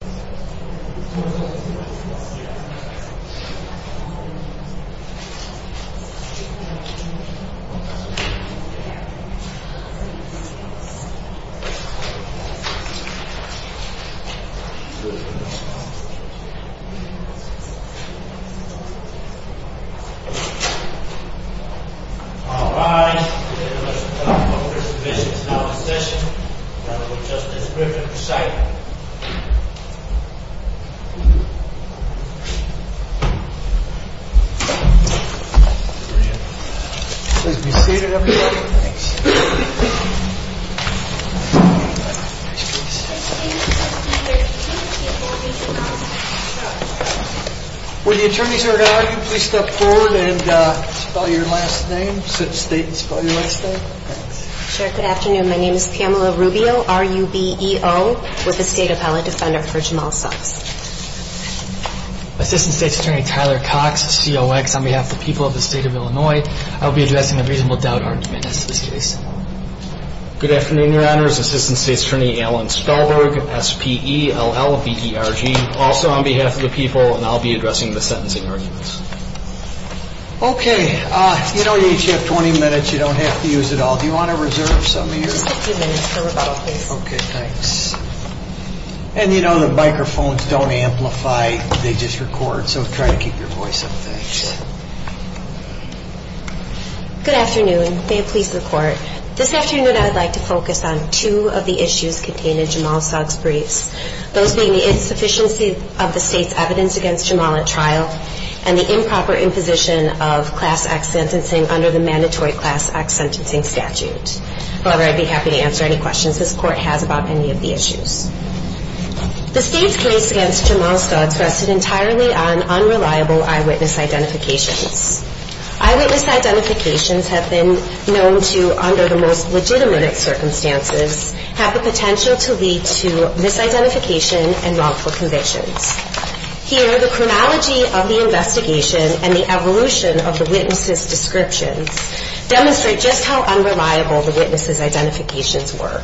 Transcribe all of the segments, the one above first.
jbjb Please be seated everybody. Will the attorneys that are going to argue please step forward and spell your last name, state and spell your last name. Good afternoon, my name is Pamela Rubio, R-U-B-E-O, with the State Appellate Defender for Jamal Sox. Assistant State's Attorney Tyler Cox, C-O-X, on behalf of the people of the state of Illinois, I will be addressing a reasonable doubt argument as to this case. Good afternoon, your honors. Assistant State's Attorney Alan Spellberg, S-P-E-L-L-B-E-R-G, also on behalf of the people, and I'll be addressing the sentencing arguments. Okay, you know you each have 20 minutes, you don't have to use it all. Do you want to reserve some of yours? Just a few minutes for rebuttal please. Okay, thanks. And you know the microphones don't amplify, they just record, so try to keep your voice up, thanks. Good afternoon, may it please the court, this afternoon I'd like to focus on two of the issues contained in Jamal Sox's briefs. Those being the insufficiency of the state's evidence against Jamal at trial, and the improper imposition of Class X sentencing under the mandatory Class X sentencing statute. However, I'd be happy to answer any questions this court has about any of the issues. The state's case against Jamal Sox rested entirely on unreliable eyewitness identifications. Eyewitness identifications have been known to, under the most legitimate circumstances, have the potential to lead to misidentification and wrongful convictions. Here, the chronology of the investigation and the evolution of the witnesses' descriptions demonstrate just how unreliable the witnesses' identifications were.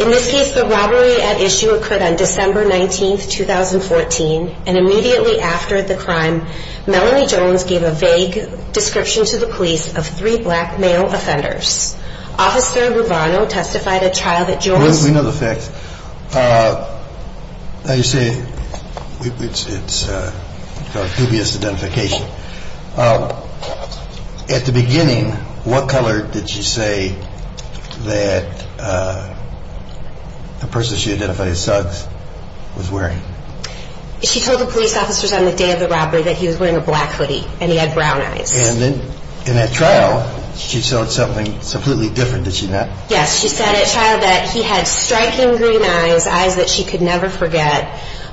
In this case, the robbery at issue occurred on December 19, 2014, and immediately after the crime, Melanie Jones gave a vague description to the police of three black male offenders. Officer Rubano testified at trial that Jones... We know the facts. Now, you say it's a dubious identification. At the beginning, what color did she say that the person she identified as Sox was wearing? She told the police officers on the day of the robbery that he was wearing a black hoodie and he had brown eyes. And then in that trial, she showed something completely different, did she not? Yes, she said at trial that he had striking green eyes, eyes that she could never forget,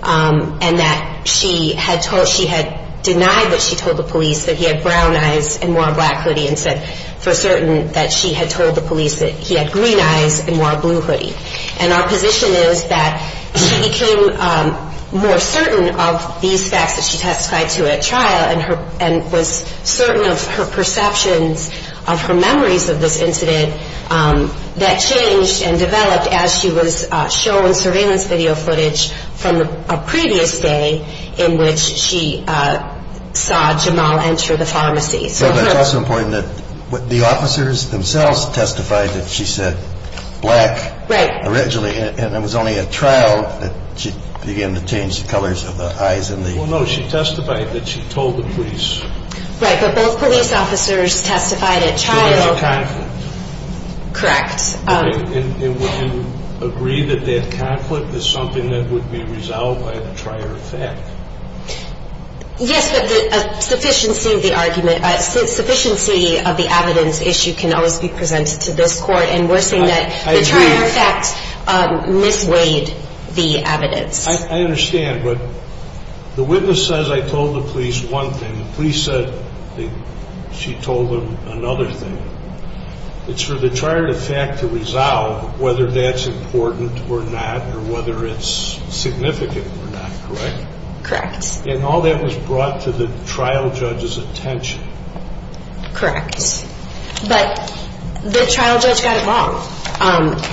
and that she had denied that she told the police that he had brown eyes and wore a black hoodie and said for certain that she had told the police that he had green eyes and wore a blue hoodie. And our position is that she became more certain of these facts that she testified to at trial and was certain of her perceptions of her memories of this incident that changed and developed as she was shown surveillance video footage from a previous day in which she saw Jamal enter the pharmacy. But it's also important that the officers themselves testified that she said black originally, and it was only at trial that she began to change the colors of the eyes and the... Well, no, she testified that she told the police. Right, but both police officers testified at trial. It was a conflict. Correct. And would you agree that that conflict is something that would be resolved by the trier effect? Yes, but the sufficiency of the argument, sufficiency of the evidence issue can always be presented to this court, I understand, but the witness says I told the police one thing. The police said she told them another thing. It's for the trier effect to resolve whether that's important or not or whether it's significant or not, correct? Correct. And all that was brought to the trial judge's attention. Correct. But the trial judge got it wrong.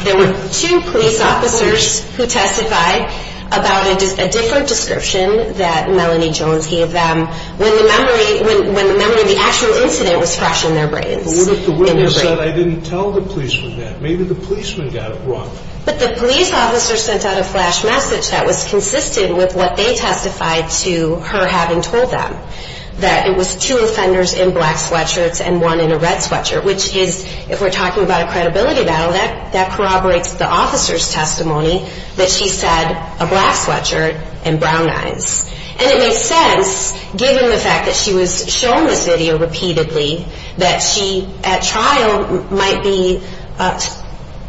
There were two police officers who testified about a different description that Melanie Jones gave them when the memory of the actual incident was fresh in their brains. But what if the witness said I didn't tell the policeman that? Maybe the policeman got it wrong. But the police officer sent out a flash message that was consistent with what they testified to her having told them, that it was two offenders in black sweatshirts and one in a red sweatshirt, which is, if we're talking about a credibility battle, that corroborates the officer's testimony, that she said a black sweatshirt and brown eyes. And it makes sense, given the fact that she was shown this video repeatedly, that she at trial might be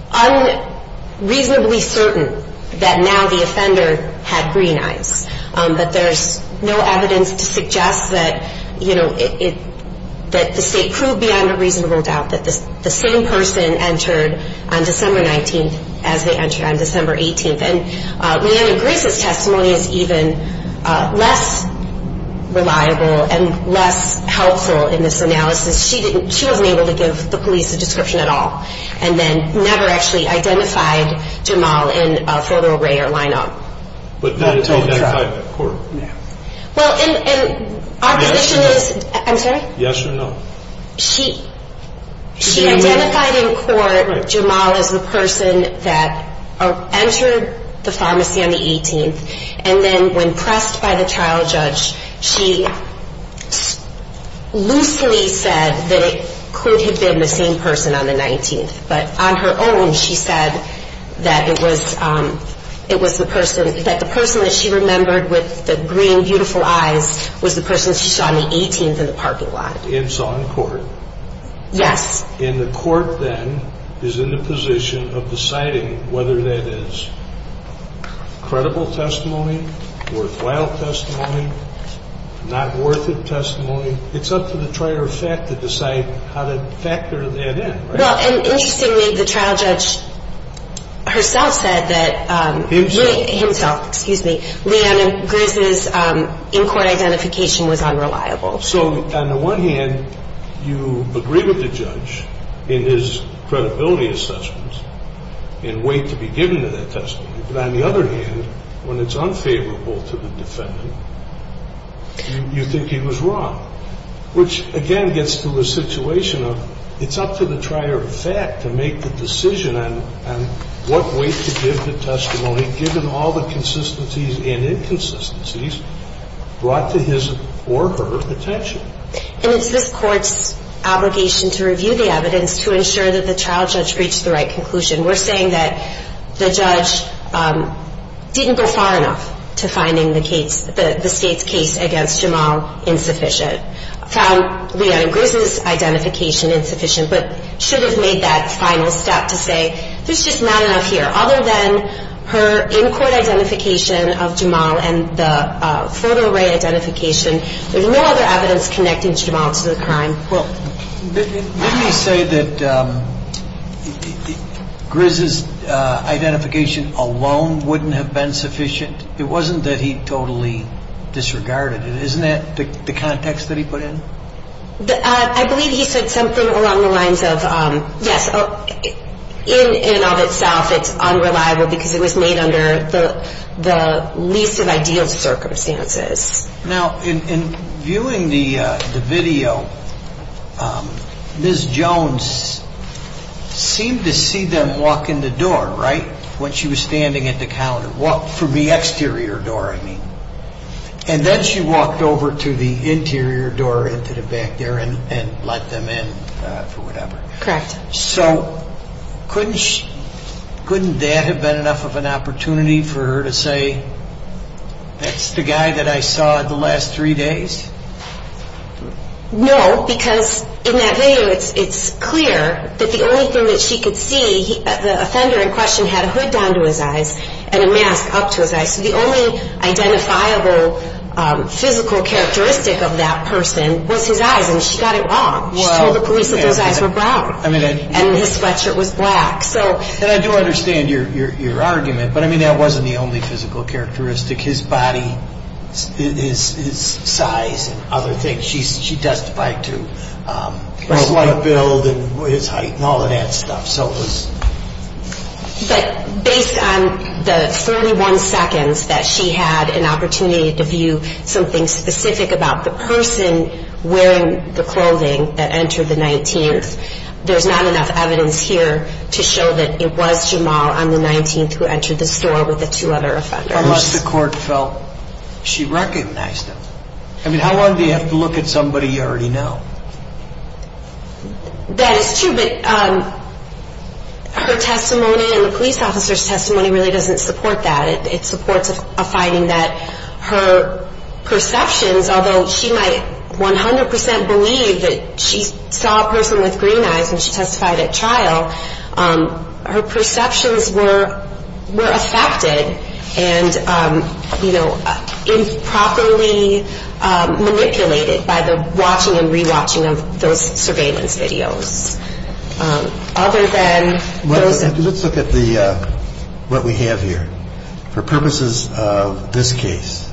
unreasonably certain that now the offender had green eyes, but there's no evidence to suggest that the state proved beyond a reasonable doubt that the same person entered on December 19th as they entered on December 18th. And Leanna Grace's testimony is even less reliable and less helpful in this analysis. She wasn't able to give the police a description at all and then never actually identified Jamal in a photo array or lineup. Well, and our position is, I'm sorry? Yes or no? She identified in court Jamal as the person that entered the pharmacy on the 18th, and then when pressed by the trial judge, she loosely said that it could have been the same person on the 19th. But on her own, she said that it was the person, that the person that she remembered with the green, beautiful eyes, was the person she saw on the 18th in the parking lot. And saw in court? Yes. And the court then is in the position of deciding whether that is credible testimony, worthwhile testimony, not worth it testimony. It's up to the trier of fact to decide how to factor that in, right? Well, and interestingly, the trial judge herself said that Leanna Grace's in-court identification was unreliable. So on the one hand, you agree with the judge in his credibility assessments and wait to be given to that testimony. But on the other hand, when it's unfavorable to the defendant, you think he was wrong, which again gets to the situation of it's up to the trier of fact to make the decision on what weight to give the testimony given all the consistencies and inconsistencies brought to his or her attention. And it's this court's obligation to review the evidence to ensure that the trial judge reached the right conclusion. We're saying that the judge didn't go far enough to finding the state's case against Jamal insufficient. Found Leanna Grace's identification insufficient, but should have made that final step to say, there's just not enough here. Other than her in-court identification of Jamal and the photo array identification, there's no other evidence connecting Jamal to the crime. Didn't he say that Grizz's identification alone wouldn't have been sufficient? It wasn't that he totally disregarded it. Isn't that the context that he put in? I believe he said something along the lines of, yes, in and of itself, it's unreliable because it was made under the least of ideal circumstances. Now, in viewing the video, Ms. Jones seemed to see them walk in the door, right, when she was standing at the counter, from the exterior door, I mean. And then she walked over to the interior door into the back there and let them in for whatever. Correct. So couldn't that have been enough of an opportunity for her to say, that's the guy that I saw the last three days? No, because in that video it's clear that the only thing that she could see, the offender in question had a hood down to his eyes and a mask up to his eyes, so the only identifiable physical characteristic of that person was his eyes, and she got it wrong. She told the police that his eyes were brown and his sweatshirt was black. And I do understand your argument, but I mean that wasn't the only physical characteristic. His body, his size and other things, she testified to. His leg build and his height and all of that stuff. But based on the 31 seconds that she had an opportunity to view something specific about the person wearing the clothing that entered the 19th, there's not enough evidence here to show that it was Jamal on the 19th who entered the store with the two other offenders. Unless the court felt she recognized him. I mean, how long do you have to look at somebody you already know? That is true, but her testimony and the police officer's testimony really doesn't support that. It supports a finding that her perceptions, although she might 100% believe that she saw a person with green eyes when she testified at trial, her perceptions were affected and, you know, improperly manipulated by the watching and re-watching of those surveillance videos. Let's look at what we have here. For purposes of this case,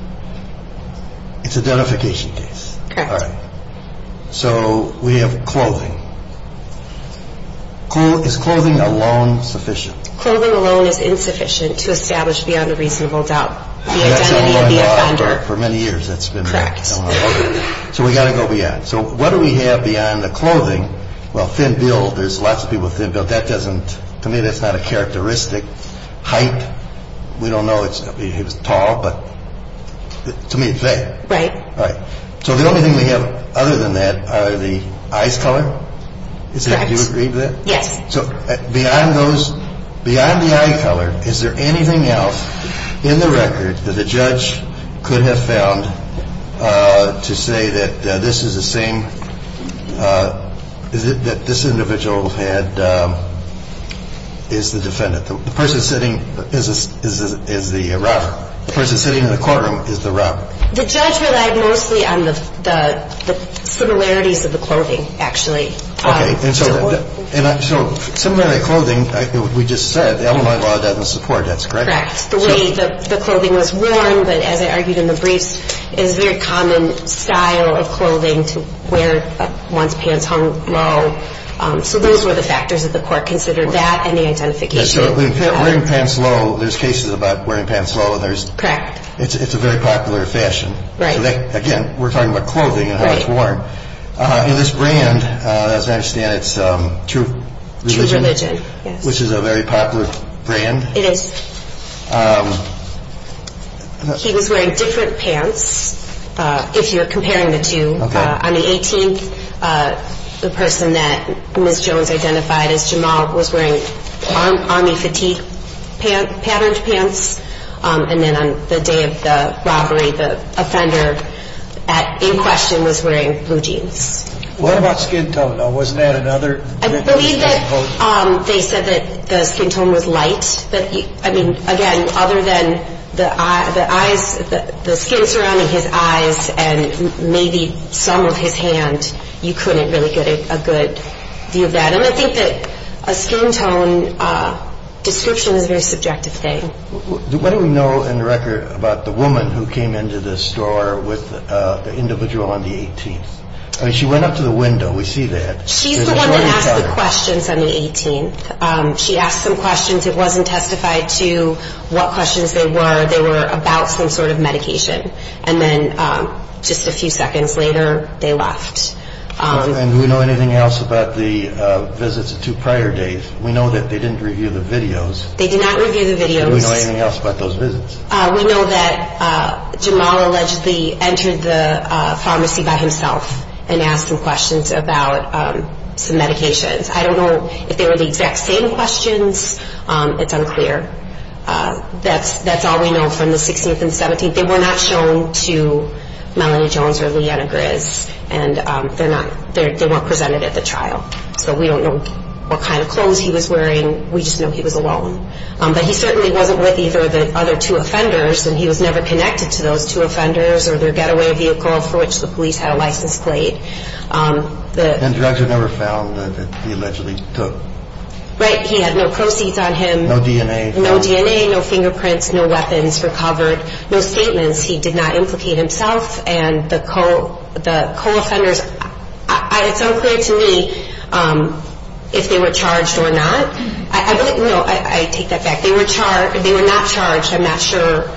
it's identification case. Correct. All right. So we have clothing. Is clothing alone sufficient? Clothing alone is insufficient to establish beyond a reasonable doubt the identity of the offender. That's been going on for many years. That's been going on. Correct. So we've got to go beyond. So what do we have beyond the clothing? Well, thin build. There's lots of people with thin build. That doesn't, to me, that's not a characteristic. Height, we don't know. He was tall, but to me, it's there. Right. Right. So the only thing we have other than that are the eyes color. Correct. Do you agree with that? Yes. So beyond those, beyond the eye color, is there anything else in the record that the judge could have found to say that this is the same, that this individual had, is the defendant? The person sitting is the robber. The person sitting in the courtroom is the robber. The judge relied mostly on the similarities of the clothing, actually. Okay. And so similarly to clothing, we just said, the Illinois law doesn't support. That's correct. Correct. The way the clothing was worn, but as I argued in the briefs, is a very common style of clothing to wear once pants hung low. So those were the factors that the court considered, that and the identification. Yes, so wearing pants low, there's cases about wearing pants low. Correct. It's a very popular fashion. Right. Again, we're talking about clothing and how it's worn. Right. And this brand, as I understand it, it's True Religion. True Religion, yes. Which is a very popular brand. It is. He was wearing different pants, if you're comparing the two. Okay. On the 18th, the person that Ms. Jones identified as Jamal was wearing army fatigue patterned pants. And then on the day of the robbery, the offender in question was wearing blue jeans. What about skin tone? Wasn't that another? I believe that they said that the skin tone was light. I mean, again, other than the skin surrounding his eyes and maybe some of his hand, you couldn't really get a good view of that. And I think that a skin tone description is a very subjective thing. What do we know in the record about the woman who came into the store with the individual on the 18th? I mean, she went up to the window. We see that. She's the one who asked the questions on the 18th. She asked some questions. It wasn't testified to what questions they were. They were about some sort of medication. And then just a few seconds later, they left. And do we know anything else about the visits of two prior days? We know that they didn't review the videos. They did not review the videos. Do we know anything else about those visits? We know that Jamal allegedly entered the pharmacy by himself and asked some questions about some medications. I don't know if they were the exact same questions. It's unclear. That's all we know from the 16th and 17th. They were not shown to Melanie Jones or Leanna Grizz, and they weren't presented at the trial. So we don't know what kind of clothes he was wearing. We just know he was alone. But he certainly wasn't with either of the other two offenders, and he was never connected to those two offenders or their getaway vehicle for which the police had a license plate. And drugs were never found that he allegedly took. Right. He had no proceeds on him. No DNA. No DNA, no fingerprints, no weapons recovered, no statements. He did not implicate himself. And the co-offenders, it's unclear to me if they were charged or not. I take that back. They were not charged. I'm not sure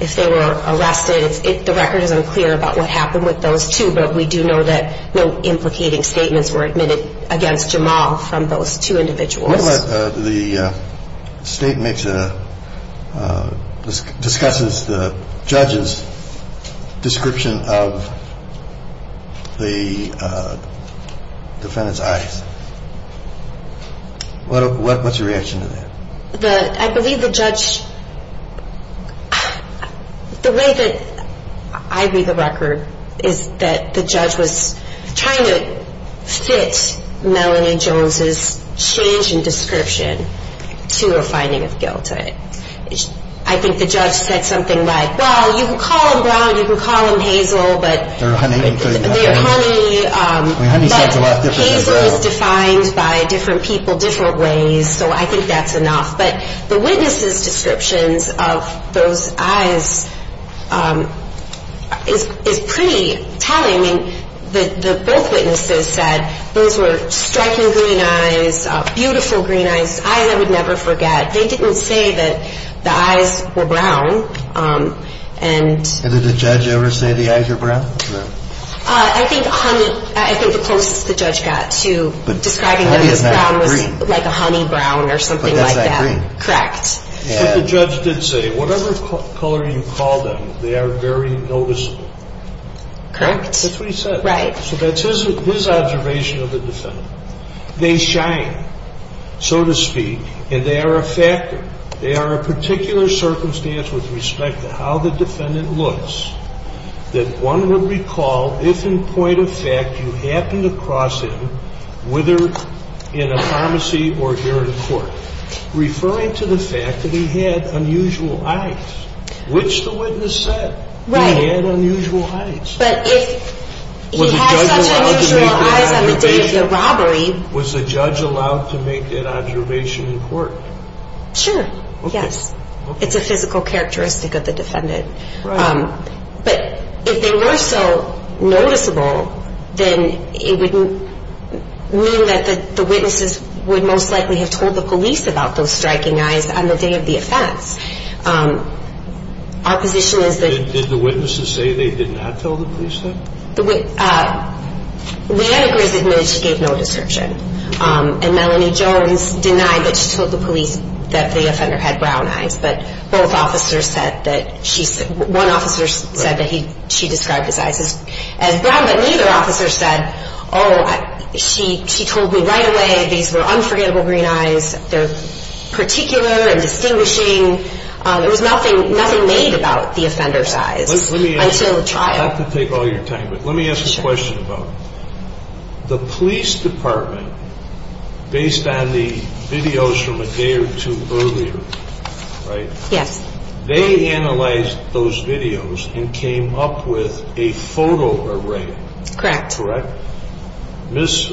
if they were arrested. The record is unclear about what happened with those two. But we do know that no implicating statements were admitted against Jamal from those two individuals. The state discusses the judge's description of the defendant's eyes. What's your reaction to that? I believe the judge, the way that I read the record, is that the judge was trying to fit Melanie Jones' change in description to a finding of guilt. I think the judge said something like, well, you can call him Brown, you can call him Hazel, but... Or Honey. Honey sounds a lot different than Brown. It was defined by different people, different ways, so I think that's enough. But the witness's descriptions of those eyes is pretty telling. Both witnesses said those were striking green eyes, beautiful green eyes, eyes I would never forget. They didn't say that the eyes were brown. I think the closest the judge got to describing him as brown was like a honey brown or something like that. Correct. But the judge did say, whatever color you call them, they are very noticeable. Correct. That's what he said. Right. So that's his observation of the defendant. They shine, so to speak, and they are a factor. They are a particular circumstance with respect to how the defendant looks that one would recall if in point of fact you happened to cross him, whether in a pharmacy or here in court, referring to the fact that he had unusual eyes, which the witness said. Right. He had unusual eyes. But if he has such unusual eyes on the day of the robbery... Was the judge allowed to make that observation in court? Sure, yes. Okay. It's a physical characteristic of the defendant. Right. But if they were so noticeable, then it wouldn't mean that the witnesses would most likely have told the police about those striking eyes on the day of the offense. Our position is that... Did the witnesses say they did not tell the police that? Leanna Grizz admitted she gave no description. And Melanie Jones denied that she told the police that the offender had brown eyes. But both officers said that she... One officer said that she described his eyes as brown. But neither officer said, oh, she told me right away these were unforgettable green eyes. They're particular and distinguishing. Not to take all your time, but let me ask a question about it. The police department, based on the videos from a day or two earlier, right? Yes. They analyzed those videos and came up with a photo array. Correct. Correct? Ms.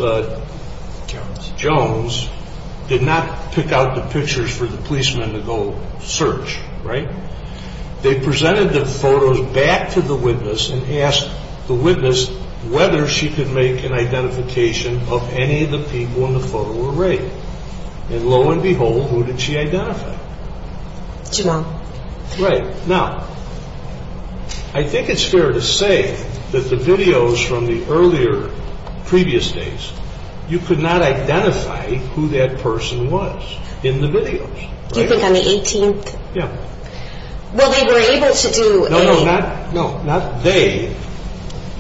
Jones did not pick out the pictures for the policemen to go search, right? They presented the photos back to the witness and asked the witness whether she could make an identification of any of the people in the photo array. And lo and behold, who did she identify? Jim Ong. Right. Now, I think it's fair to say that the videos from the earlier, previous days, you could not identify who that person was in the videos. You think on the 18th? Yeah. Well, they were able to do a... No, no, not they.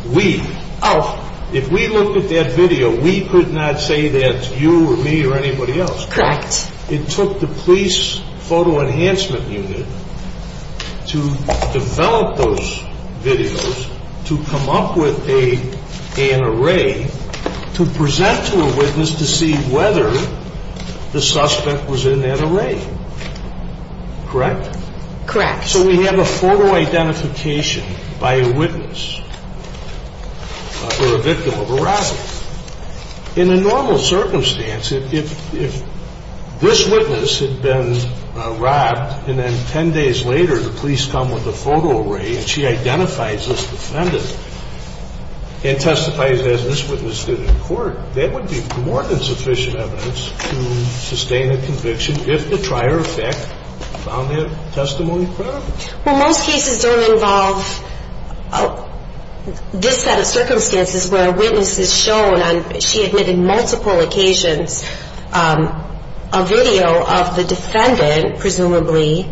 We. Oh. If we looked at that video, we could not say that's you or me or anybody else. Correct. It took the police photo enhancement unit to develop those videos to come up with an array to present to a witness to see whether the suspect was in that array. Correct? Correct. So we have a photo identification by a witness or a victim of a robbery. In a normal circumstance, if this witness had been robbed and then 10 days later the police come with a photo array and she identifies this defendant and testifies as this witness did in court, that would be more than sufficient evidence to sustain a conviction if the trier of fact found their testimony credible. Well, most cases don't involve this set of circumstances where a witness is shown on, she admitted multiple occasions, a video of the defendant, presumably,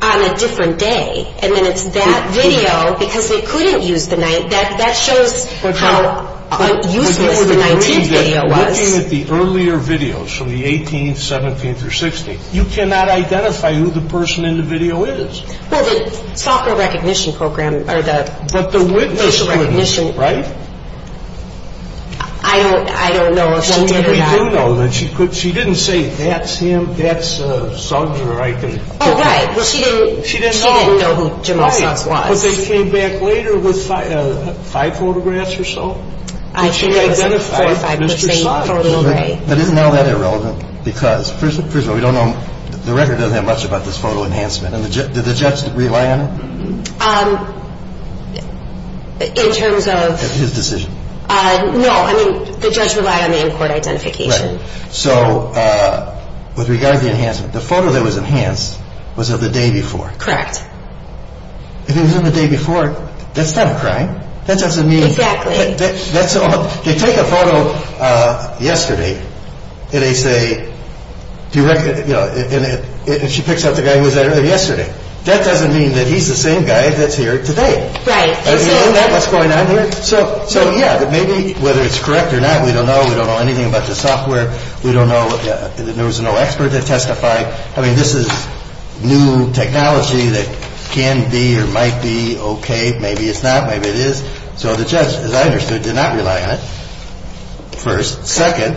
on a different day. And then it's that video, because they couldn't use the 19th, that shows how useless the 19th video was. Looking at the earlier videos from the 18th, 17th, or 16th, you cannot identify who the person in the video is. Well, the software recognition program or the... But the witness would, right? I don't know if that did or not. She didn't say that's him, that's a thug or I can... Oh, right, she didn't know who Jim Olsatz was. But they came back later with five photographs or so, and she identified Mr. Olsatz. But isn't all that irrelevant? Because, first of all, we don't know, the record doesn't have much about this photo enhancement. Did the judge rely on it? In terms of... His decision. No, I mean, the judge relied on the in-court identification. So, with regard to the enhancement, the photo that was enhanced was of the day before. Correct. If it was of the day before, that's not a crime. That doesn't mean... Exactly. They take a photo yesterday, and they say, and she picks out the guy who was there yesterday. That doesn't mean that he's the same guy that's here today. Right. Isn't that what's going on here? So, yeah, maybe whether it's correct or not, we don't know. We don't know anything about the software. We don't know. There was no expert to testify. I mean, this is new technology that can be or might be okay. Maybe it's not. Maybe it is. So the judge, as I understood, did not rely on it, first. Second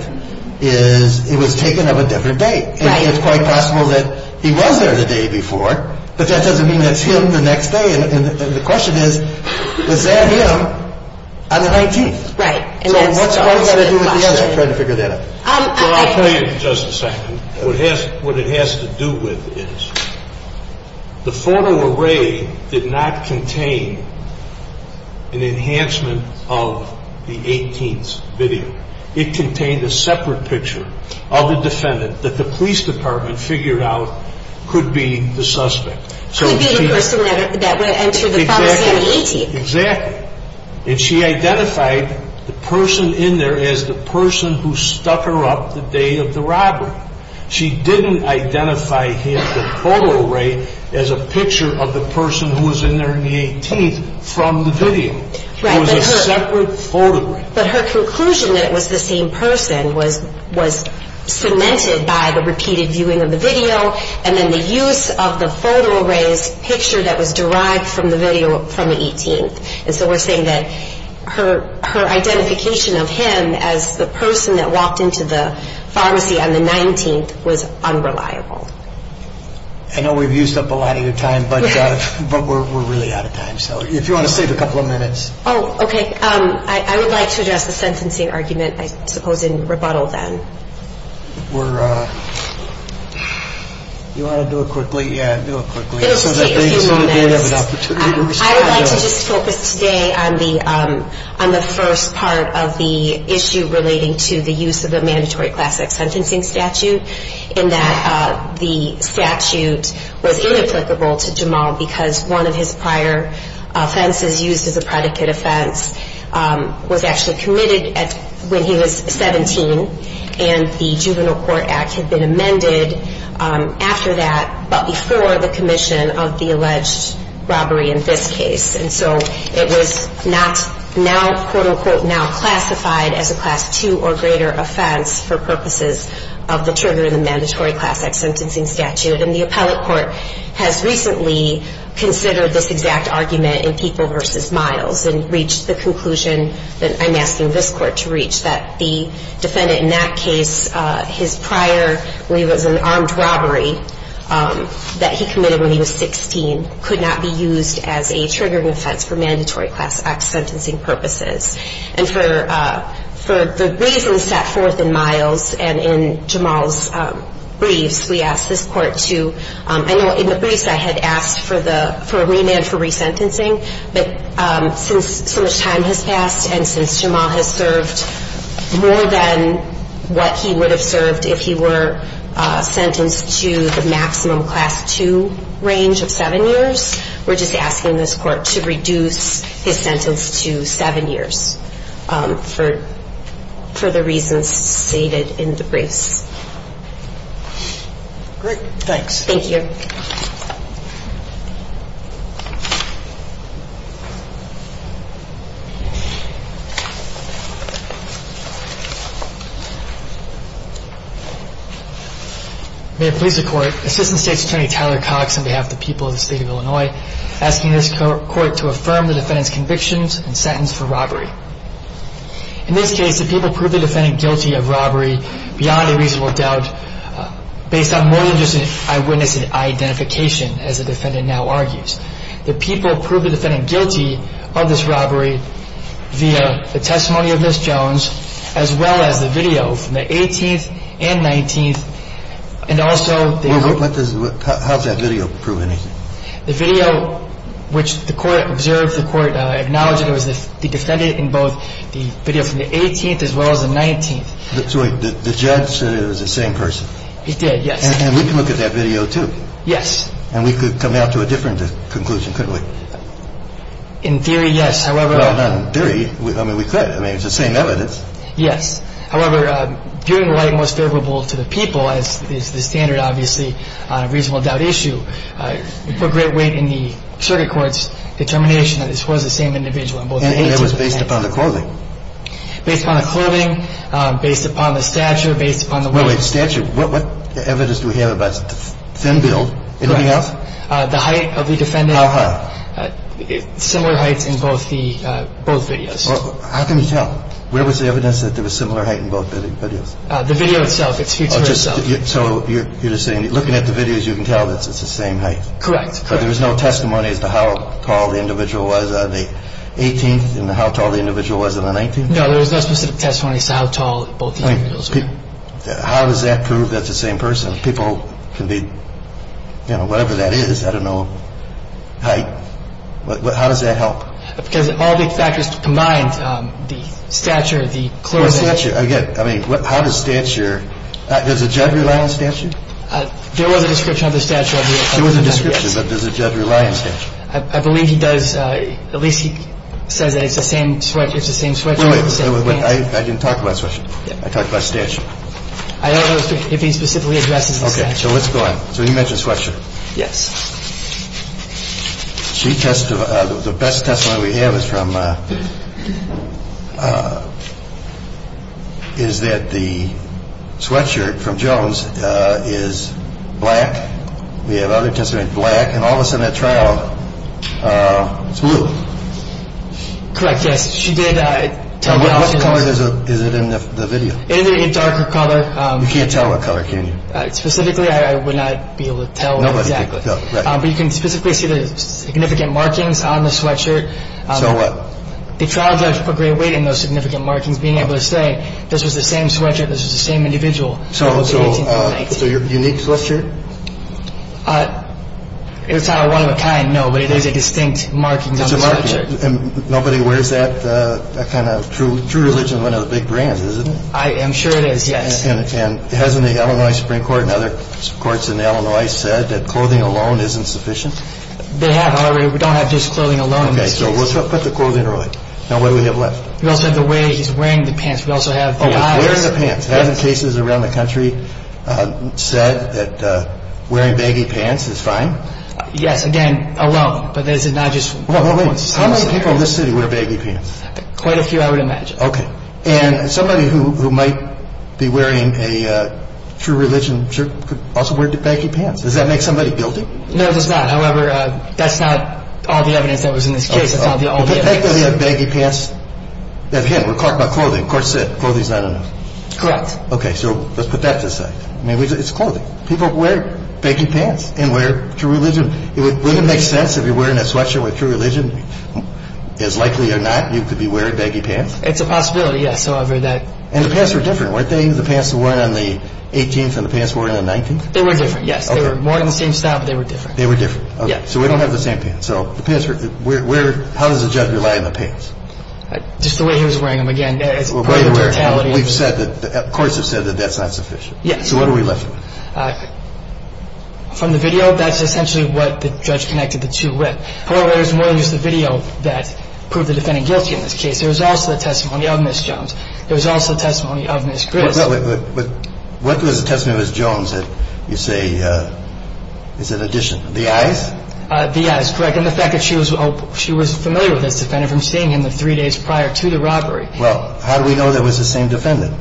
is it was taken of a different date. Right. And it's quite possible that he was there the day before. But that doesn't mean that's him the next day. And the question is, was that him on the 19th? Right. So what's that got to do with the other? I'm trying to figure that out. Well, I'll tell you in just a second. What it has to do with is the photo array did not contain an enhancement of the 18th's video. It contained a separate picture of the defendant that the police department figured out could be the suspect. Could be the person that entered the premise on the 18th. Exactly. And she identified the person in there as the person who stuck her up the day of the robbery. She didn't identify him, the photo array, as a picture of the person who was in there on the 18th from the video. It was a separate photo array. But her conclusion that it was the same person was cemented by the repeated viewing of the video and then the use of the photo array's picture that was derived from the video from the 18th. And so we're saying that her identification of him as the person that walked into the pharmacy on the 19th was unreliable. I know we've used up a lot of your time, but we're really out of time. So if you want to save a couple of minutes. Oh, okay. I would like to address the sentencing argument, I suppose, in rebuttal then. You want to do it quickly? Yeah, do it quickly. It'll just take a few moments. I would like to just focus today on the first part of the issue relating to the use of the mandatory classic sentencing statute in that the statute was inapplicable to Jamal because one of his prior offenses used as a predicate offense was actually committed when he was 17, and the Juvenile Court Act had been amended after that, but before the commission of the alleged robbery in this case. And so it was not now, quote, unquote, now classified as a Class II or greater offense for purposes of the trigger of the mandatory classic sentencing statute. And the appellate court has recently considered this exact argument in People v. Miles and reached the conclusion that I'm asking this court to reach, that the defendant in that case, his prior, I believe it was an armed robbery that he committed when he was 16, could not be used as a triggering offense for mandatory classic sentencing purposes. And for the reasons set forth in Miles and in Jamal's briefs, we asked this court to, I know in the briefs I had asked for a remand for resentencing, but since so much time has passed and since Jamal has served more than what he would have served if he were sentenced to the maximum Class II range of seven years, we're just asking this court to reduce his sentence to seven years for the reasons stated in the briefs. Great, thanks. Thank you. May it please the Court, Assistant State's Attorney Tyler Cox on behalf of the people of the State of Illinois asking this court to affirm the defendant's convictions and sentence for robbery. In this case, the people proved the defendant guilty of robbery beyond a reasonable doubt based on more than just an eyewitness identification, as the defendant now argues. The people proved the defendant guilty of this robbery via the testimony of Ms. Jones as well as the video from the 18th and 19th and also the… Wait, what does, how does that video prove anything? The video which the court observed, the court acknowledged it was the defendant in both the video from the 18th as well as the 19th. So the judge said it was the same person? He did, yes. And we can look at that video too? Yes. And we could come out to a different conclusion, couldn't we? In theory, yes, however… Well, not in theory. I mean, we could. I mean, it's the same evidence. Yes. However, viewing the light most favorable to the people, it's the standard, obviously, on a reasonable doubt issue. We put great weight in the circuit court's determination that this was the same individual in both the 18th and 19th. And it was based upon the clothing? Based upon the clothing, based upon the stature, based upon the… Wait, wait, stature. What evidence do we have about thin build? Correct. Anything else? The height of the defendant. How high? Similar heights in both the, both videos. How can you tell? Where was the evidence that there was similar height in both videos? The video itself. It's here to herself. So you're just saying, looking at the videos, you can tell that it's the same height? Correct. But there was no testimony as to how tall the individual was on the 18th and how tall the individual was on the 19th? No, there was no specific testimony as to how tall both the individuals were. How does that prove that's the same person? People can be, you know, whatever that is, I don't know, height. How does that help? Because all the factors combined, the stature, the clothing… How does stature, does the judge rely on stature? There was a description of the stature. There was a description, but does the judge rely on stature? I believe he does. At least he says that it's the same sweatshirt with the same pants. Wait, wait, wait. I didn't talk about sweatshirt. I talked about stature. I don't know if he specifically addresses the stature. Okay, so let's go on. So you mentioned sweatshirt. Yes. She testified, the best testimony we have is from, is that the sweatshirt from Jones is black. We have other testimonies, black. And all of a sudden at trial, it's blue. Correct, yes. What color is it in the video? It's a darker color. You can't tell what color, can you? Specifically, I would not be able to tell exactly. But you can specifically see the significant markings on the sweatshirt. So what? The trial judge put great weight in those significant markings, being able to say this was the same sweatshirt, this was the same individual. So your unique sweatshirt? It's not a one-of-a-kind, no, but it is a distinct marking on the sweatshirt. It's a marking. And nobody wears that kind of, true religion is one of the big brands, isn't it? I am sure it is, yes. And hasn't the Illinois Supreme Court and other courts in Illinois said that clothing alone isn't sufficient? They have already. We don't have just clothing alone in this case. Okay, so we'll put the clothing away. Now, what do we have left? You also have the way he's wearing the pants. We also have the eyes. Oh, wearing the pants. Hasn't cases around the country said that wearing baggy pants is fine? Yes, again, alone. But is it not just one person? How many people in this city wear baggy pants? Quite a few, I would imagine. Okay. And somebody who might be wearing a true religion shirt could also wear baggy pants. Does that make somebody guilty? No, it does not. However, that's not all the evidence that was in this case. It's not the all the evidence. But technically, a baggy pants, again, we're talking about clothing. Of course, clothing is not enough. Correct. Okay, so let's put that to the side. I mean, it's clothing. People wear baggy pants and wear true religion. Would it make sense if you're wearing a sweatshirt with true religion? As likely or not, you could be wearing baggy pants? It's a possibility, yes. And the pants were different, weren't they? The pants they were wearing on the 18th and the pants they were wearing on the 19th? They were different, yes. They were more in the same style, but they were different. They were different. Okay, so we don't have the same pants. So how does a judge rely on the pants? Just the way he was wearing them. Again, it's a matter of totality. The courts have said that that's not sufficient. Yes. So what are we left with? From the video, that's essentially what the judge connected the two with. However, there's more than just the video that proved the defendant guilty in this case. There was also the testimony of Ms. Jones. There was also the testimony of Ms. Gris. But what was the testimony of Ms. Jones that you say is an addition? The eyes? The eyes, correct. And the fact that she was familiar with this defendant from seeing him the three days prior to the robbery. Well, how do we know that it was the same defendant?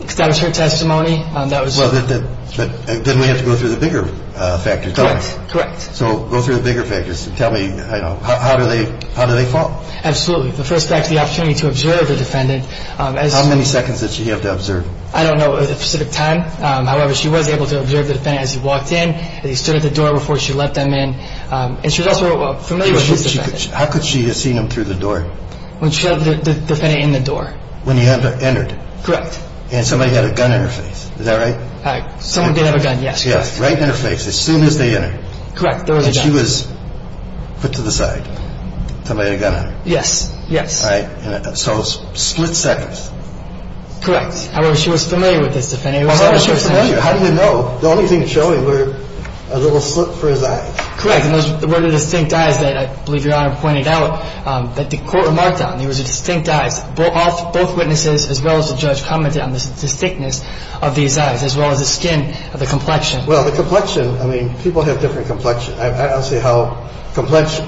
Because that was her testimony. Well, then we have to go through the bigger factors, don't we? Correct, correct. So go through the bigger factors and tell me how do they fall? Absolutely. The first factor, the opportunity to observe the defendant. How many seconds did she have to observe? I don't know the specific time. However, she was able to observe the defendant as he walked in, as he stood at the door before she let them in. And she was also familiar with this defendant. How could she have seen him through the door? When she let the defendant in the door. When he entered. Correct. And somebody had a gun in her face. Is that right? Someone did have a gun, yes. Right in her face, as soon as they entered. Correct, there was a gun. And she was put to the side. Somebody had a gun on her. Yes, yes. Right. So split seconds. Correct. However, she was familiar with this defendant. How do you know? The only thing showing were a little slip for his eyes. Correct. And those were the distinct eyes that I believe Your Honor pointed out that the court remarked on. There was a distinct eyes. Both witnesses, as well as the judge, commented on the distinctness of these eyes, as well as the skin of the complexion. Well, the complexion, I mean, people have different complexion. I don't see how complexion.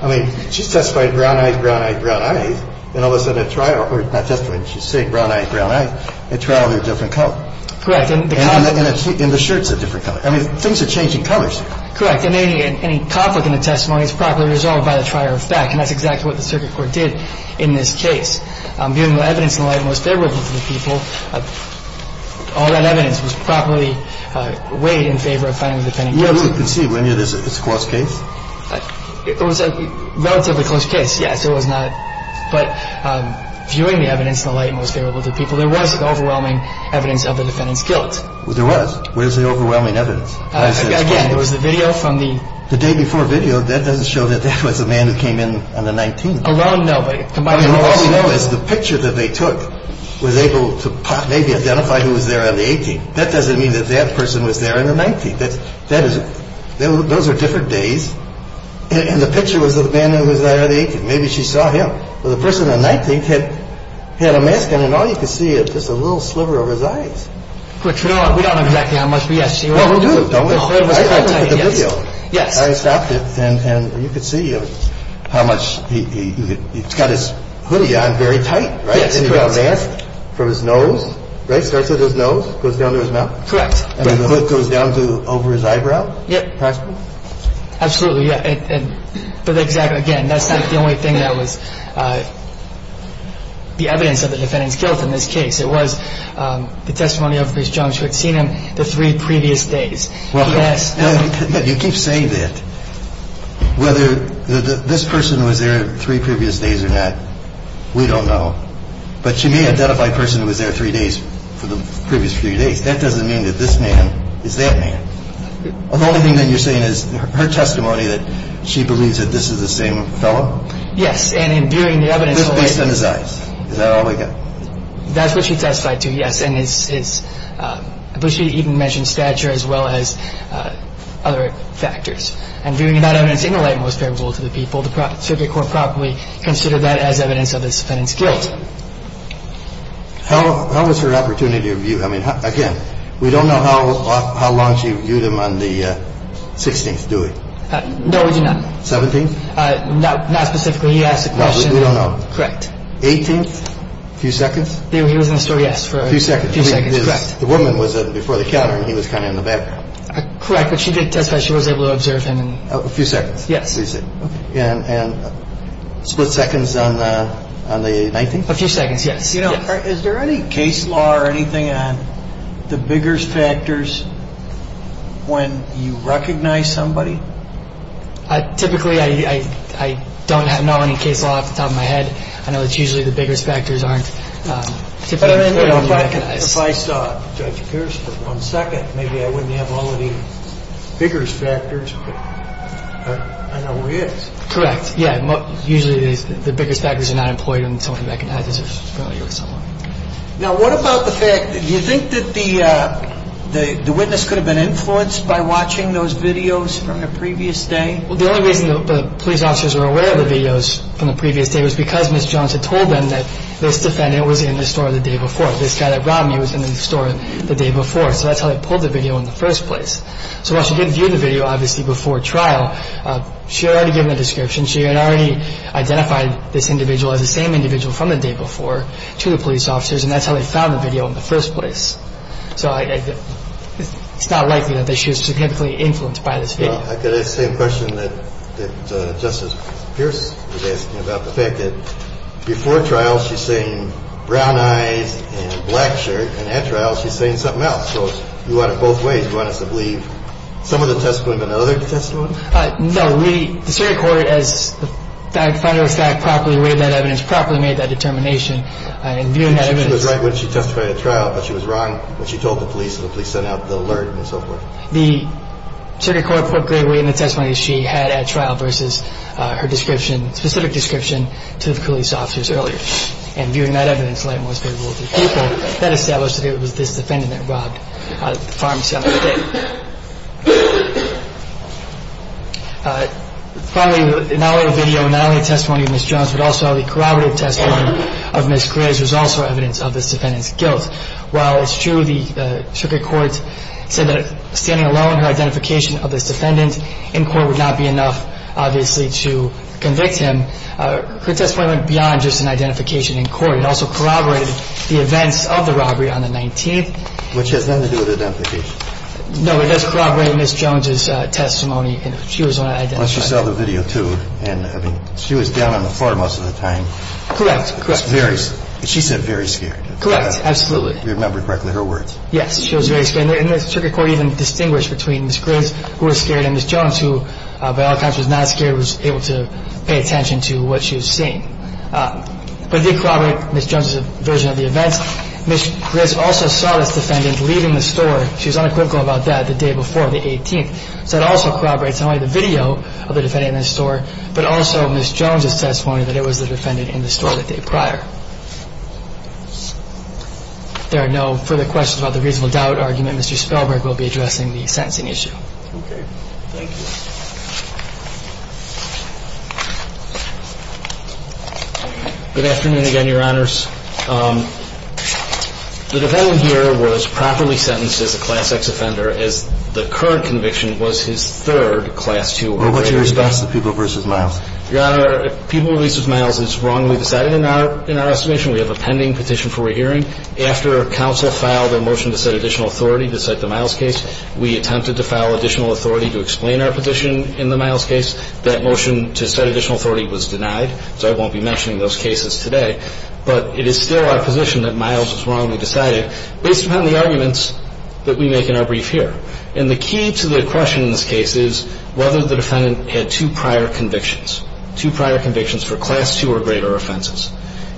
I mean, she testified brown-eyed, brown-eyed, brown-eyed. And all of a sudden at trial, or not just when she's saying brown-eyed, brown-eyed, at trial, they're a different color. Correct. And the shirt's a different color. I mean, things are changing colors here. Correct. And any conflict in the testimony is properly resolved by the trier of fact. And that's exactly what the circuit court did in this case. Viewing the evidence in the light most favorable to the people, all that evidence was properly weighed in favor of finding the defendant guilty. And you can see when you're this close case. It was a relatively close case. Yes, it was not. But viewing the evidence in the light most favorable to the people, there was overwhelming evidence of the defendant's guilt. There was. Where's the overwhelming evidence? Again, there was the video from the – The day before video, that doesn't show that that was the man that came in on the 19th. Around, no. But all we know is the picture that they took was able to maybe identify who was there on the 18th. That doesn't mean that that person was there on the 19th. That is – those are different days. And the picture was of the man who was there on the 18th. Maybe she saw him. Well, the person on the 19th had a mask on, and all you could see was just a little sliver of his eyes. We don't know exactly how much, but yes. Well, we do. Don't we? Yes. I stopped it, and you could see how much – he's got his hoodie on very tight, right? Yes, correct. And he's got a mask from his nose, right, starts at his nose, goes down to his mouth. Correct. And the hood goes down to over his eyebrow? Yep. Approximately? Absolutely, yeah. But again, that's not the only thing that was the evidence of the defendant's guilt in this case. It was the testimony of Bruce Jones who had seen him the three previous days. Yes. You keep saying that. Whether this person was there three previous days or not, we don't know. But you may identify a person who was there three days for the previous few days. That doesn't mean that this man is that man. The only thing that you're saying is her testimony that she believes that this is the same fellow? Yes. And in viewing the evidence – Just based on his eyes. Is that all I got? That's what she testified to, yes. And it's – but she even mentioned stature as well as other factors. And viewing that evidence in the light most favorable to the people, the circuit court probably considered that as evidence of this defendant's guilt. How was her opportunity of view? I mean, again, we don't know how long she viewed him on the 16th, do we? No, we do not. 17th? Not specifically. He asked a question. No, we do not know. Correct. 18th? A few seconds? He was in the store, yes, for a few seconds. A few seconds. Correct. The woman was before the counter and he was kind of in the back. Correct. But she did testify. She was able to observe him. A few seconds? Yes. And split seconds on the 19th? A few seconds, yes. You know, is there any case law or anything on the biggers factors when you recognize somebody? Typically, I don't know any case law off the top of my head. I know that usually the biggers factors aren't typically when you recognize. If I saw Judge Pierce for one second, maybe I wouldn't have all of the biggers factors, but I know where he is. Correct, yeah. But usually the biggers factors are not employed when somebody recognizes somebody or someone. Now, what about the fact, do you think that the witness could have been influenced by watching those videos from the previous day? Well, the only reason the police officers were aware of the videos from the previous day was because Ms. Jones had told them that this defendant was in the store the day before. This guy that robbed me was in the store the day before. So that's how they pulled the video in the first place. So while she didn't view the video, obviously, before trial, she had already given a description. She had already identified this individual as the same individual from the day before to the police officers, and that's how they found the video in the first place. So it's not likely that she was typically influenced by this video. Well, I could ask the same question that Justice Pierce was asking about the fact that before trial she's saying brown eyes and black shirt, and at trial she's saying something else. The farm sale. Finally, not only the video, not only the testimony of Ms. Jones, but also the corroborative testimony of Ms. Grizz was also evidence of this defendant's guilt. While it's true the circuit court said that standing alone, her identification of this defendant in court would not be enough, obviously, to convict him, her testimony went beyond just an identification in court. It also corroborated the events of the robbery on the 19th. Which has nothing to do with identification. No, it does corroborate Ms. Jones' testimony. She was on identification. Well, she saw the video, too. She was down on the farm most of the time. Correct, correct. She said very scared. Correct, absolutely. You remembered correctly her words. Yes, she was very scared. And the circuit court even distinguished between Ms. Grizz, who was scared, and Ms. Jones, who by all accounts was not scared, was able to pay attention to what she was seeing. But it did corroborate Ms. Jones' version of the events. Ms. Grizz also saw this defendant leaving the store. She was unequivocal about that the day before, the 18th. So it also corroborates not only the video of the defendant in the store, but also Ms. Jones' testimony that it was the defendant in the store the day prior. If there are no further questions about the reasonable doubt argument, Mr. Spelberg will be addressing the sentencing issue. Okay. Thank you. Good afternoon again, Your Honors. The defendant here was properly sentenced as a Class X offender, as the current conviction was his third Class 2. What's your response to Peeble v. Miles? Your Honor, Peeble v. Miles is wrongly decided in our estimation. We have a pending petition for re-hearing. After counsel filed a motion to set additional authority to cite the Miles case, we attempted to file additional authority to explain our petition in the Miles case. That motion to set additional authority was denied, so I won't be mentioning those cases today. But it is still our position that Miles was wrongly decided based upon the arguments that we make in our brief here. And the key to the question in this case is whether the defendant had two prior convictions, two prior convictions for Class 2 or greater offenses.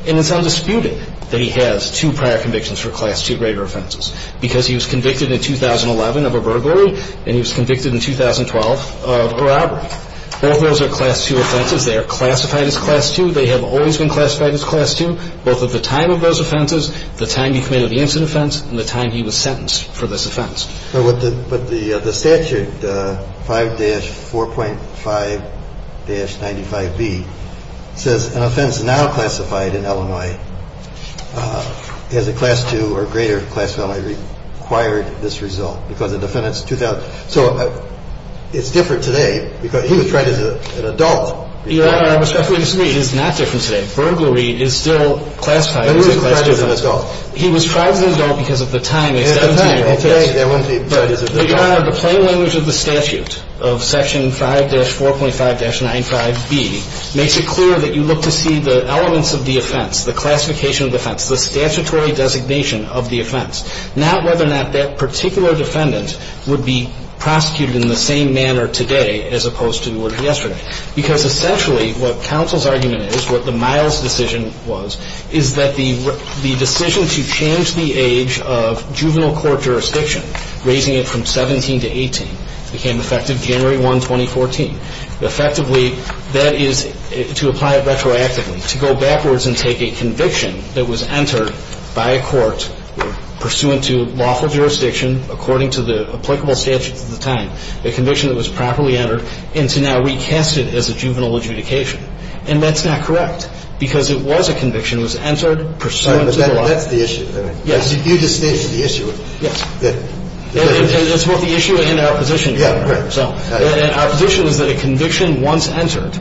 And it's undisputed that he has two prior convictions for Class 2 or greater offenses because he was convicted in 2011 of a burglary and he was convicted in 2012 of a robbery. Both those are Class 2 offenses. They are classified as Class 2. They have always been classified as Class 2, both at the time of those offenses, the time he committed the incident offense, and the time he was sentenced for this offense. But the statute, 5-4.5-95B, says an offense now classified in Illinois as a Class 2 or greater class of Illinois required this result because the defendant's 2000. So it's different today because he was tried as an adult. Your Honor, I respectfully disagree. It is not different today. Burglary is still classified as a Class 2 offense. But he was tried as an adult. He was tried as an adult because at the time they sentenced him. At the time, okay. But, Your Honor, the plain language of the statute of Section 5-4.5-95B makes it clear that you look to see the elements of the offense, the classification of the offense, the statutory designation of the offense, not whether or not that particular defendant would be prosecuted in the same manner today as opposed to yesterday. Because essentially what counsel's argument is, what the Miles decision was, is that the decision to change the age of juvenile court jurisdiction, raising it from 17 to 18, became effective January 1, 2014. Effectively, that is to apply it retroactively, to go backwards and take a conviction that was entered by a court pursuant to lawful jurisdiction according to the applicable statutes at the time, a conviction that was properly entered, and to now recast it as a juvenile adjudication. And that's not correct. Because it was a conviction that was entered pursuant to the law. But that's the issue. Yes. You just stated the issue. Yes. It's both the issue and our position. Yeah, right. And our position is that a conviction once entered,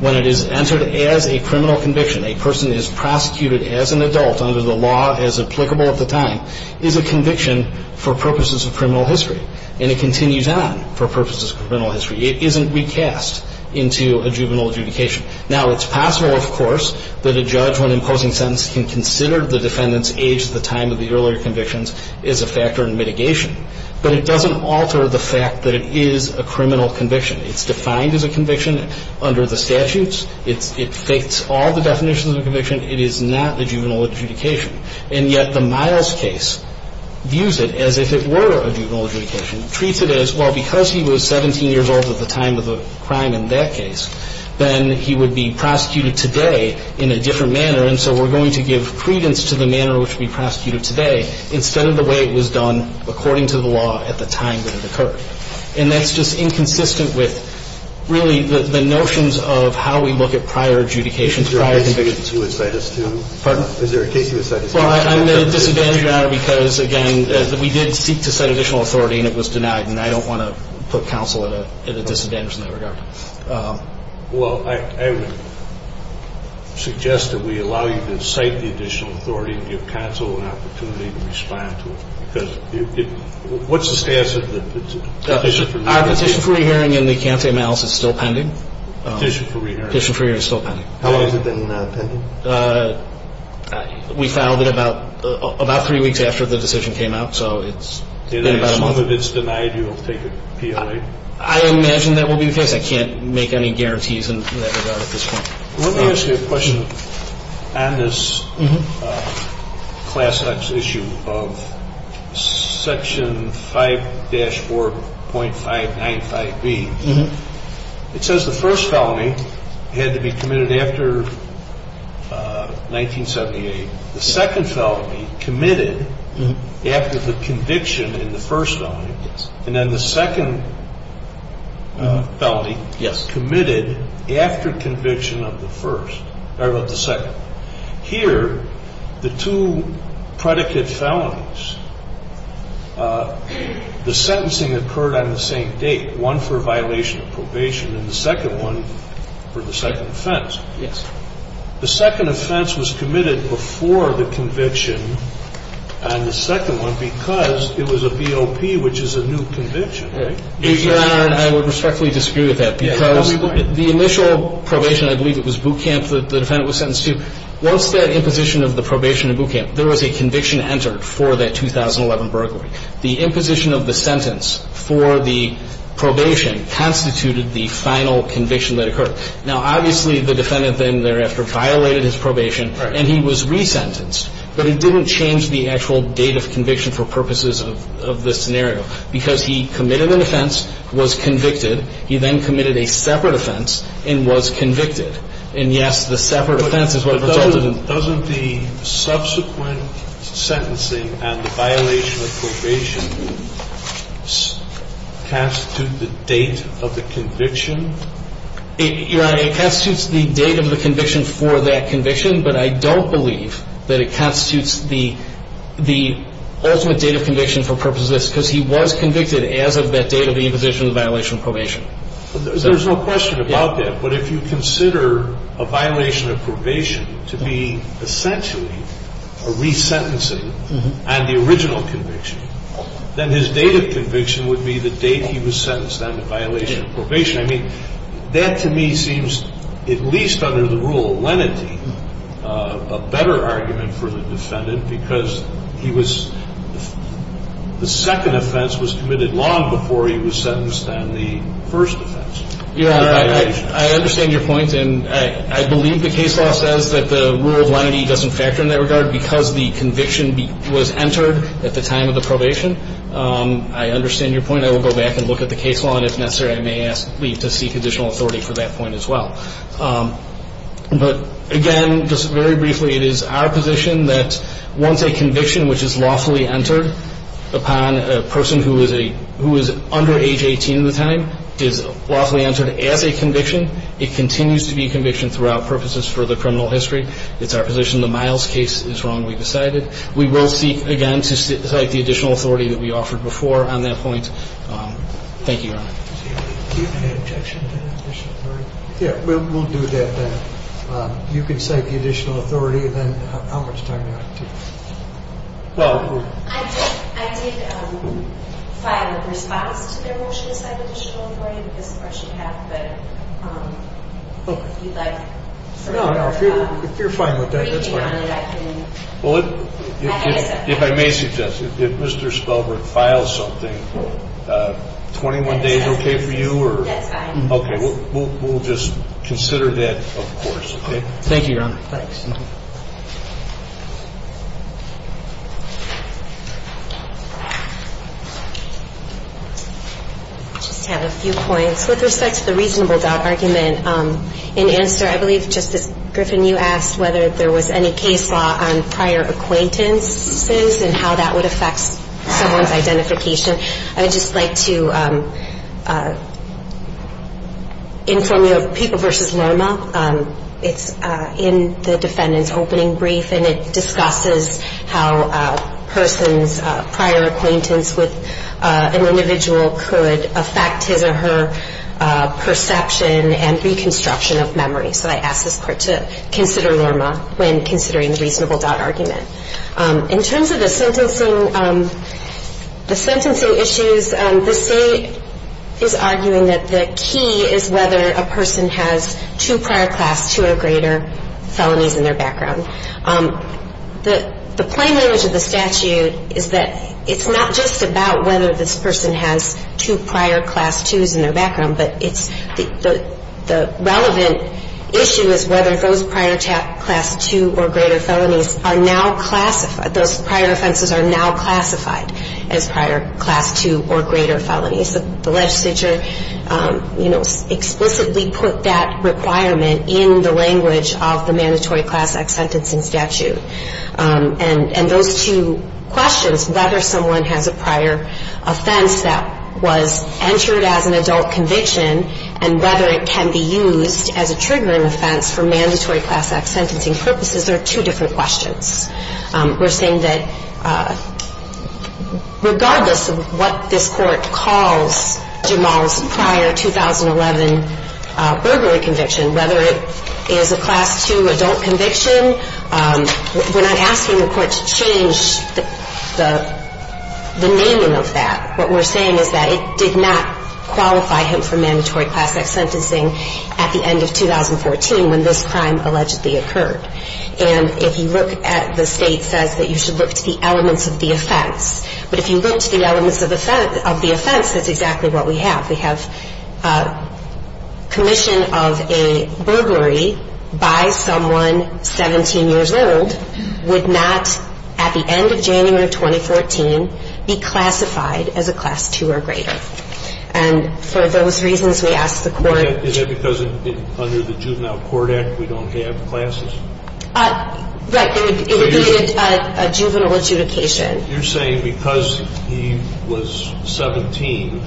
when it is entered as a criminal conviction, a person is prosecuted as an adult under the law as applicable at the time, is a conviction for purposes of criminal history. And it continues on for purposes of criminal history. It isn't recast into a juvenile adjudication. Now, it's possible, of course, that a judge, when imposing a sentence, can consider the defendant's age at the time of the earlier convictions as a factor in mitigation. But it doesn't alter the fact that it is a criminal conviction. It's defined as a conviction under the statutes. It fits all the definitions of a conviction. It is not a juvenile adjudication. And yet the Miles case views it as if it were a juvenile adjudication. It treats it as, well, because he was 17 years old at the time of the crime in that case, then he would be prosecuted today in a different manner. And so we're going to give credence to the manner in which we prosecute it today instead of the way it was done according to the law at the time that it occurred. And that's just inconsistent with really the notions of how we look at prior adjudications, prior convictions. Thank you. And I would like to ask a question. I'm not aware of any other case you would cite us to. Pardon? Is there a case you would cite us to? Well, I'm going to disadvantage your honor because, again, we did seek to cite additional authority, and it was denied, and I don't want to put counsel at a disadvantage in that regard. Well, I would suggest that we allow you to cite the additional authority and give counsel an opportunity to respond to it. Because what's the status of the petition for re-hearing? Our petition for re-hearing in the Cante Malis is still pending. Petition for re-hearing? Petition for re-hearing is still pending. How long has it been pending? We filed it about three weeks after the decision came out, so it's been about a month. And as long as it's denied, you'll take it PLA? I imagine that will be the case. I can't make any guarantees in that regard at this point. Let me ask you a question on this Class X issue of Section 5-4.595B. It says the first felony had to be committed after 1978. The second felony committed after the conviction in the first felony. Yes. And then the second felony committed after conviction of the second. Here, the two predicate felonies, the sentencing occurred on the same date, one for violation of probation and the second one for the second offense. Yes. The second offense was committed before the conviction on the second one because it was a BOP, which is a new conviction, right? Your Honor, I would respectfully disagree with that because the initial probation, I believe it was Boot Camp that the defendant was sentenced to, once that imposition of the probation in Boot Camp, there was a conviction entered for that 2011 burglary. The imposition of the sentence for the probation constituted the final conviction that occurred. Now, obviously, the defendant then thereafter violated his probation and he was resentenced, but it didn't change the actual date of conviction for purposes of this scenario because he committed an offense, was convicted. He then committed a separate offense and was convicted. And, yes, the separate offense is what resulted in. But doesn't the subsequent sentencing and the violation of probation constitute the date of the conviction? Your Honor, it constitutes the date of the conviction for that conviction, but I don't believe that it constitutes the ultimate date of conviction for purposes of this because he was convicted as of that date of the imposition of the violation of probation. There's no question about that, but if you consider a violation of probation to be essentially a resentencing on the original conviction, then his date of conviction would be the date he was sentenced on the violation of probation. I mean, that to me seems, at least under the rule of lenity, a better argument for the defendant because he was the second offense was committed long before he was sentenced on the first offense. Your Honor, I understand your point. And I believe the case law says that the rule of lenity doesn't factor in that regard because the conviction was entered at the time of the probation. I understand your point. Again, I will go back and look at the case law, and if necessary, I may ask Lee to seek additional authority for that point as well. But again, just very briefly, it is our position that once a conviction which is lawfully entered upon a person who is under age 18 at the time is lawfully entered as a conviction, it continues to be a conviction throughout purposes for the criminal history. It's our position the Miles case is wrongly decided. We will seek, again, to cite the additional authority that we offered before on that point. Thank you, Your Honor. Do you have any objection to that additional authority? Yeah, we'll do that then. You can cite the additional authority, and then how much time do you have? Well, I did file a response to their motion to cite additional authority, because of course you have. But if you'd like, sir. No, no, if you're fine with that, that's fine. Well, if I may suggest, if Mr. Spelberg files something, 21 days okay for you? That's fine. Okay. We'll just consider that, of course. Okay. Thank you, Your Honor. Thanks. I just have a few points. With respect to the reasonable doubt argument, in answer, I believe, Justice Griffin, you asked whether there was any case law on prior acquaintances and how that would affect someone's identification. I would just like to inform you of People v. Lerma. It's in the defendant's opening brief, and it discusses how a person's prior acquaintance with an individual could affect his or her perception and reconstruction of memory. So I ask this Court to consider Lerma when considering the reasonable doubt argument. In terms of the sentencing, the sentencing issues, the state is arguing that the key is whether a person has two prior Class II or greater felonies in their background. The plain language of the statute is that it's not just about whether this person has two prior Class IIs in their background, but the relevant issue is whether those prior Class II or greater felonies are now classified, those prior offenses are now classified as prior Class II or greater felonies. The legislature explicitly put that requirement in the language of the Mandatory Class Act Sentencing Statute. And those two questions, whether someone has a prior offense that was entered as an adult conviction and whether it can be used as a triggering offense for Mandatory Class Act sentencing purposes, are two different questions. We're saying that regardless of what this Court calls Jamal's prior 2011 burglary conviction, whether it is a Class II adult conviction, we're not asking the Court to change the naming of that. What we're saying is that it did not qualify him for Mandatory Class Act sentencing at the end of 2014 when this crime allegedly occurred. And if you look at the state says that you should look to the elements of the offense, but if you look to the elements of the offense, that's exactly what we have. We have a commission of a burglary by someone 17 years old would not, at the end of January 2014, be classified as a Class II or greater. And for those reasons, we ask the Court to change it. Is that because under the Juvenile Court Act, we don't have classes? Right. It would be a juvenile adjudication. You're saying because he was 17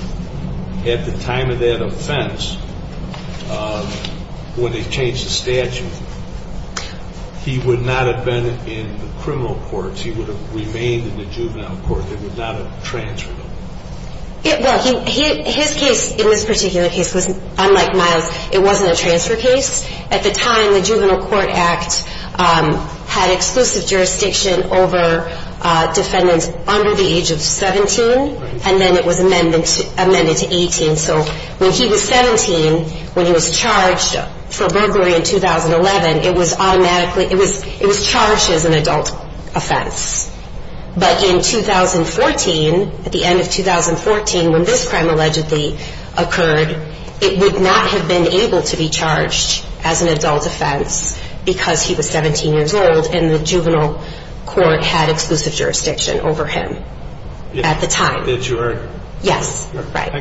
at the time of that offense, when they changed the statute, he would not have been in the criminal courts. He would have remained in the Juvenile Court. They would not have transferred him. Well, his case in this particular case was unlike Miles. It wasn't a transfer case. At the time, the Juvenile Court Act had exclusive jurisdiction over defendants under the age of 17, and then it was amended to 18. So when he was 17, when he was charged for burglary in 2011, it was automatically – it was charged as an adult offense. But in 2014, at the end of 2014, when this crime allegedly occurred, it would not have been able to be charged as an adult offense because he was 17 years old and the Juvenile Court had exclusive jurisdiction over him at the time. Did you heard? Yes. Right.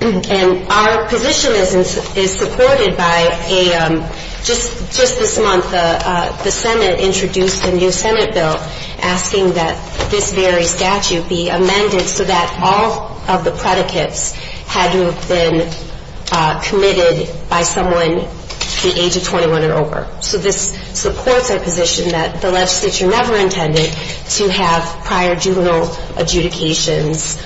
And our position is supported by a – just this month, the Senate introduced a new Senate bill asking that this very statute be amended so that all of the predicates had to have been committed by someone the age of 21 and over. So this supports our position that the legislature never intended to have prior juvenile adjudications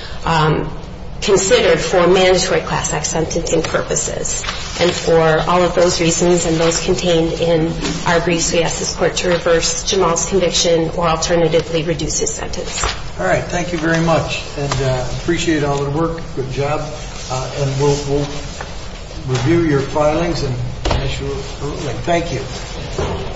considered for mandatory class act sentencing purposes. And for all of those reasons and those contained in our briefs, we ask this court to reverse Jamal's conviction or alternatively reduce his sentence. All right. Thank you very much. And I appreciate all the work. Good job. And we'll review your filings and issue a ruling. Thank you.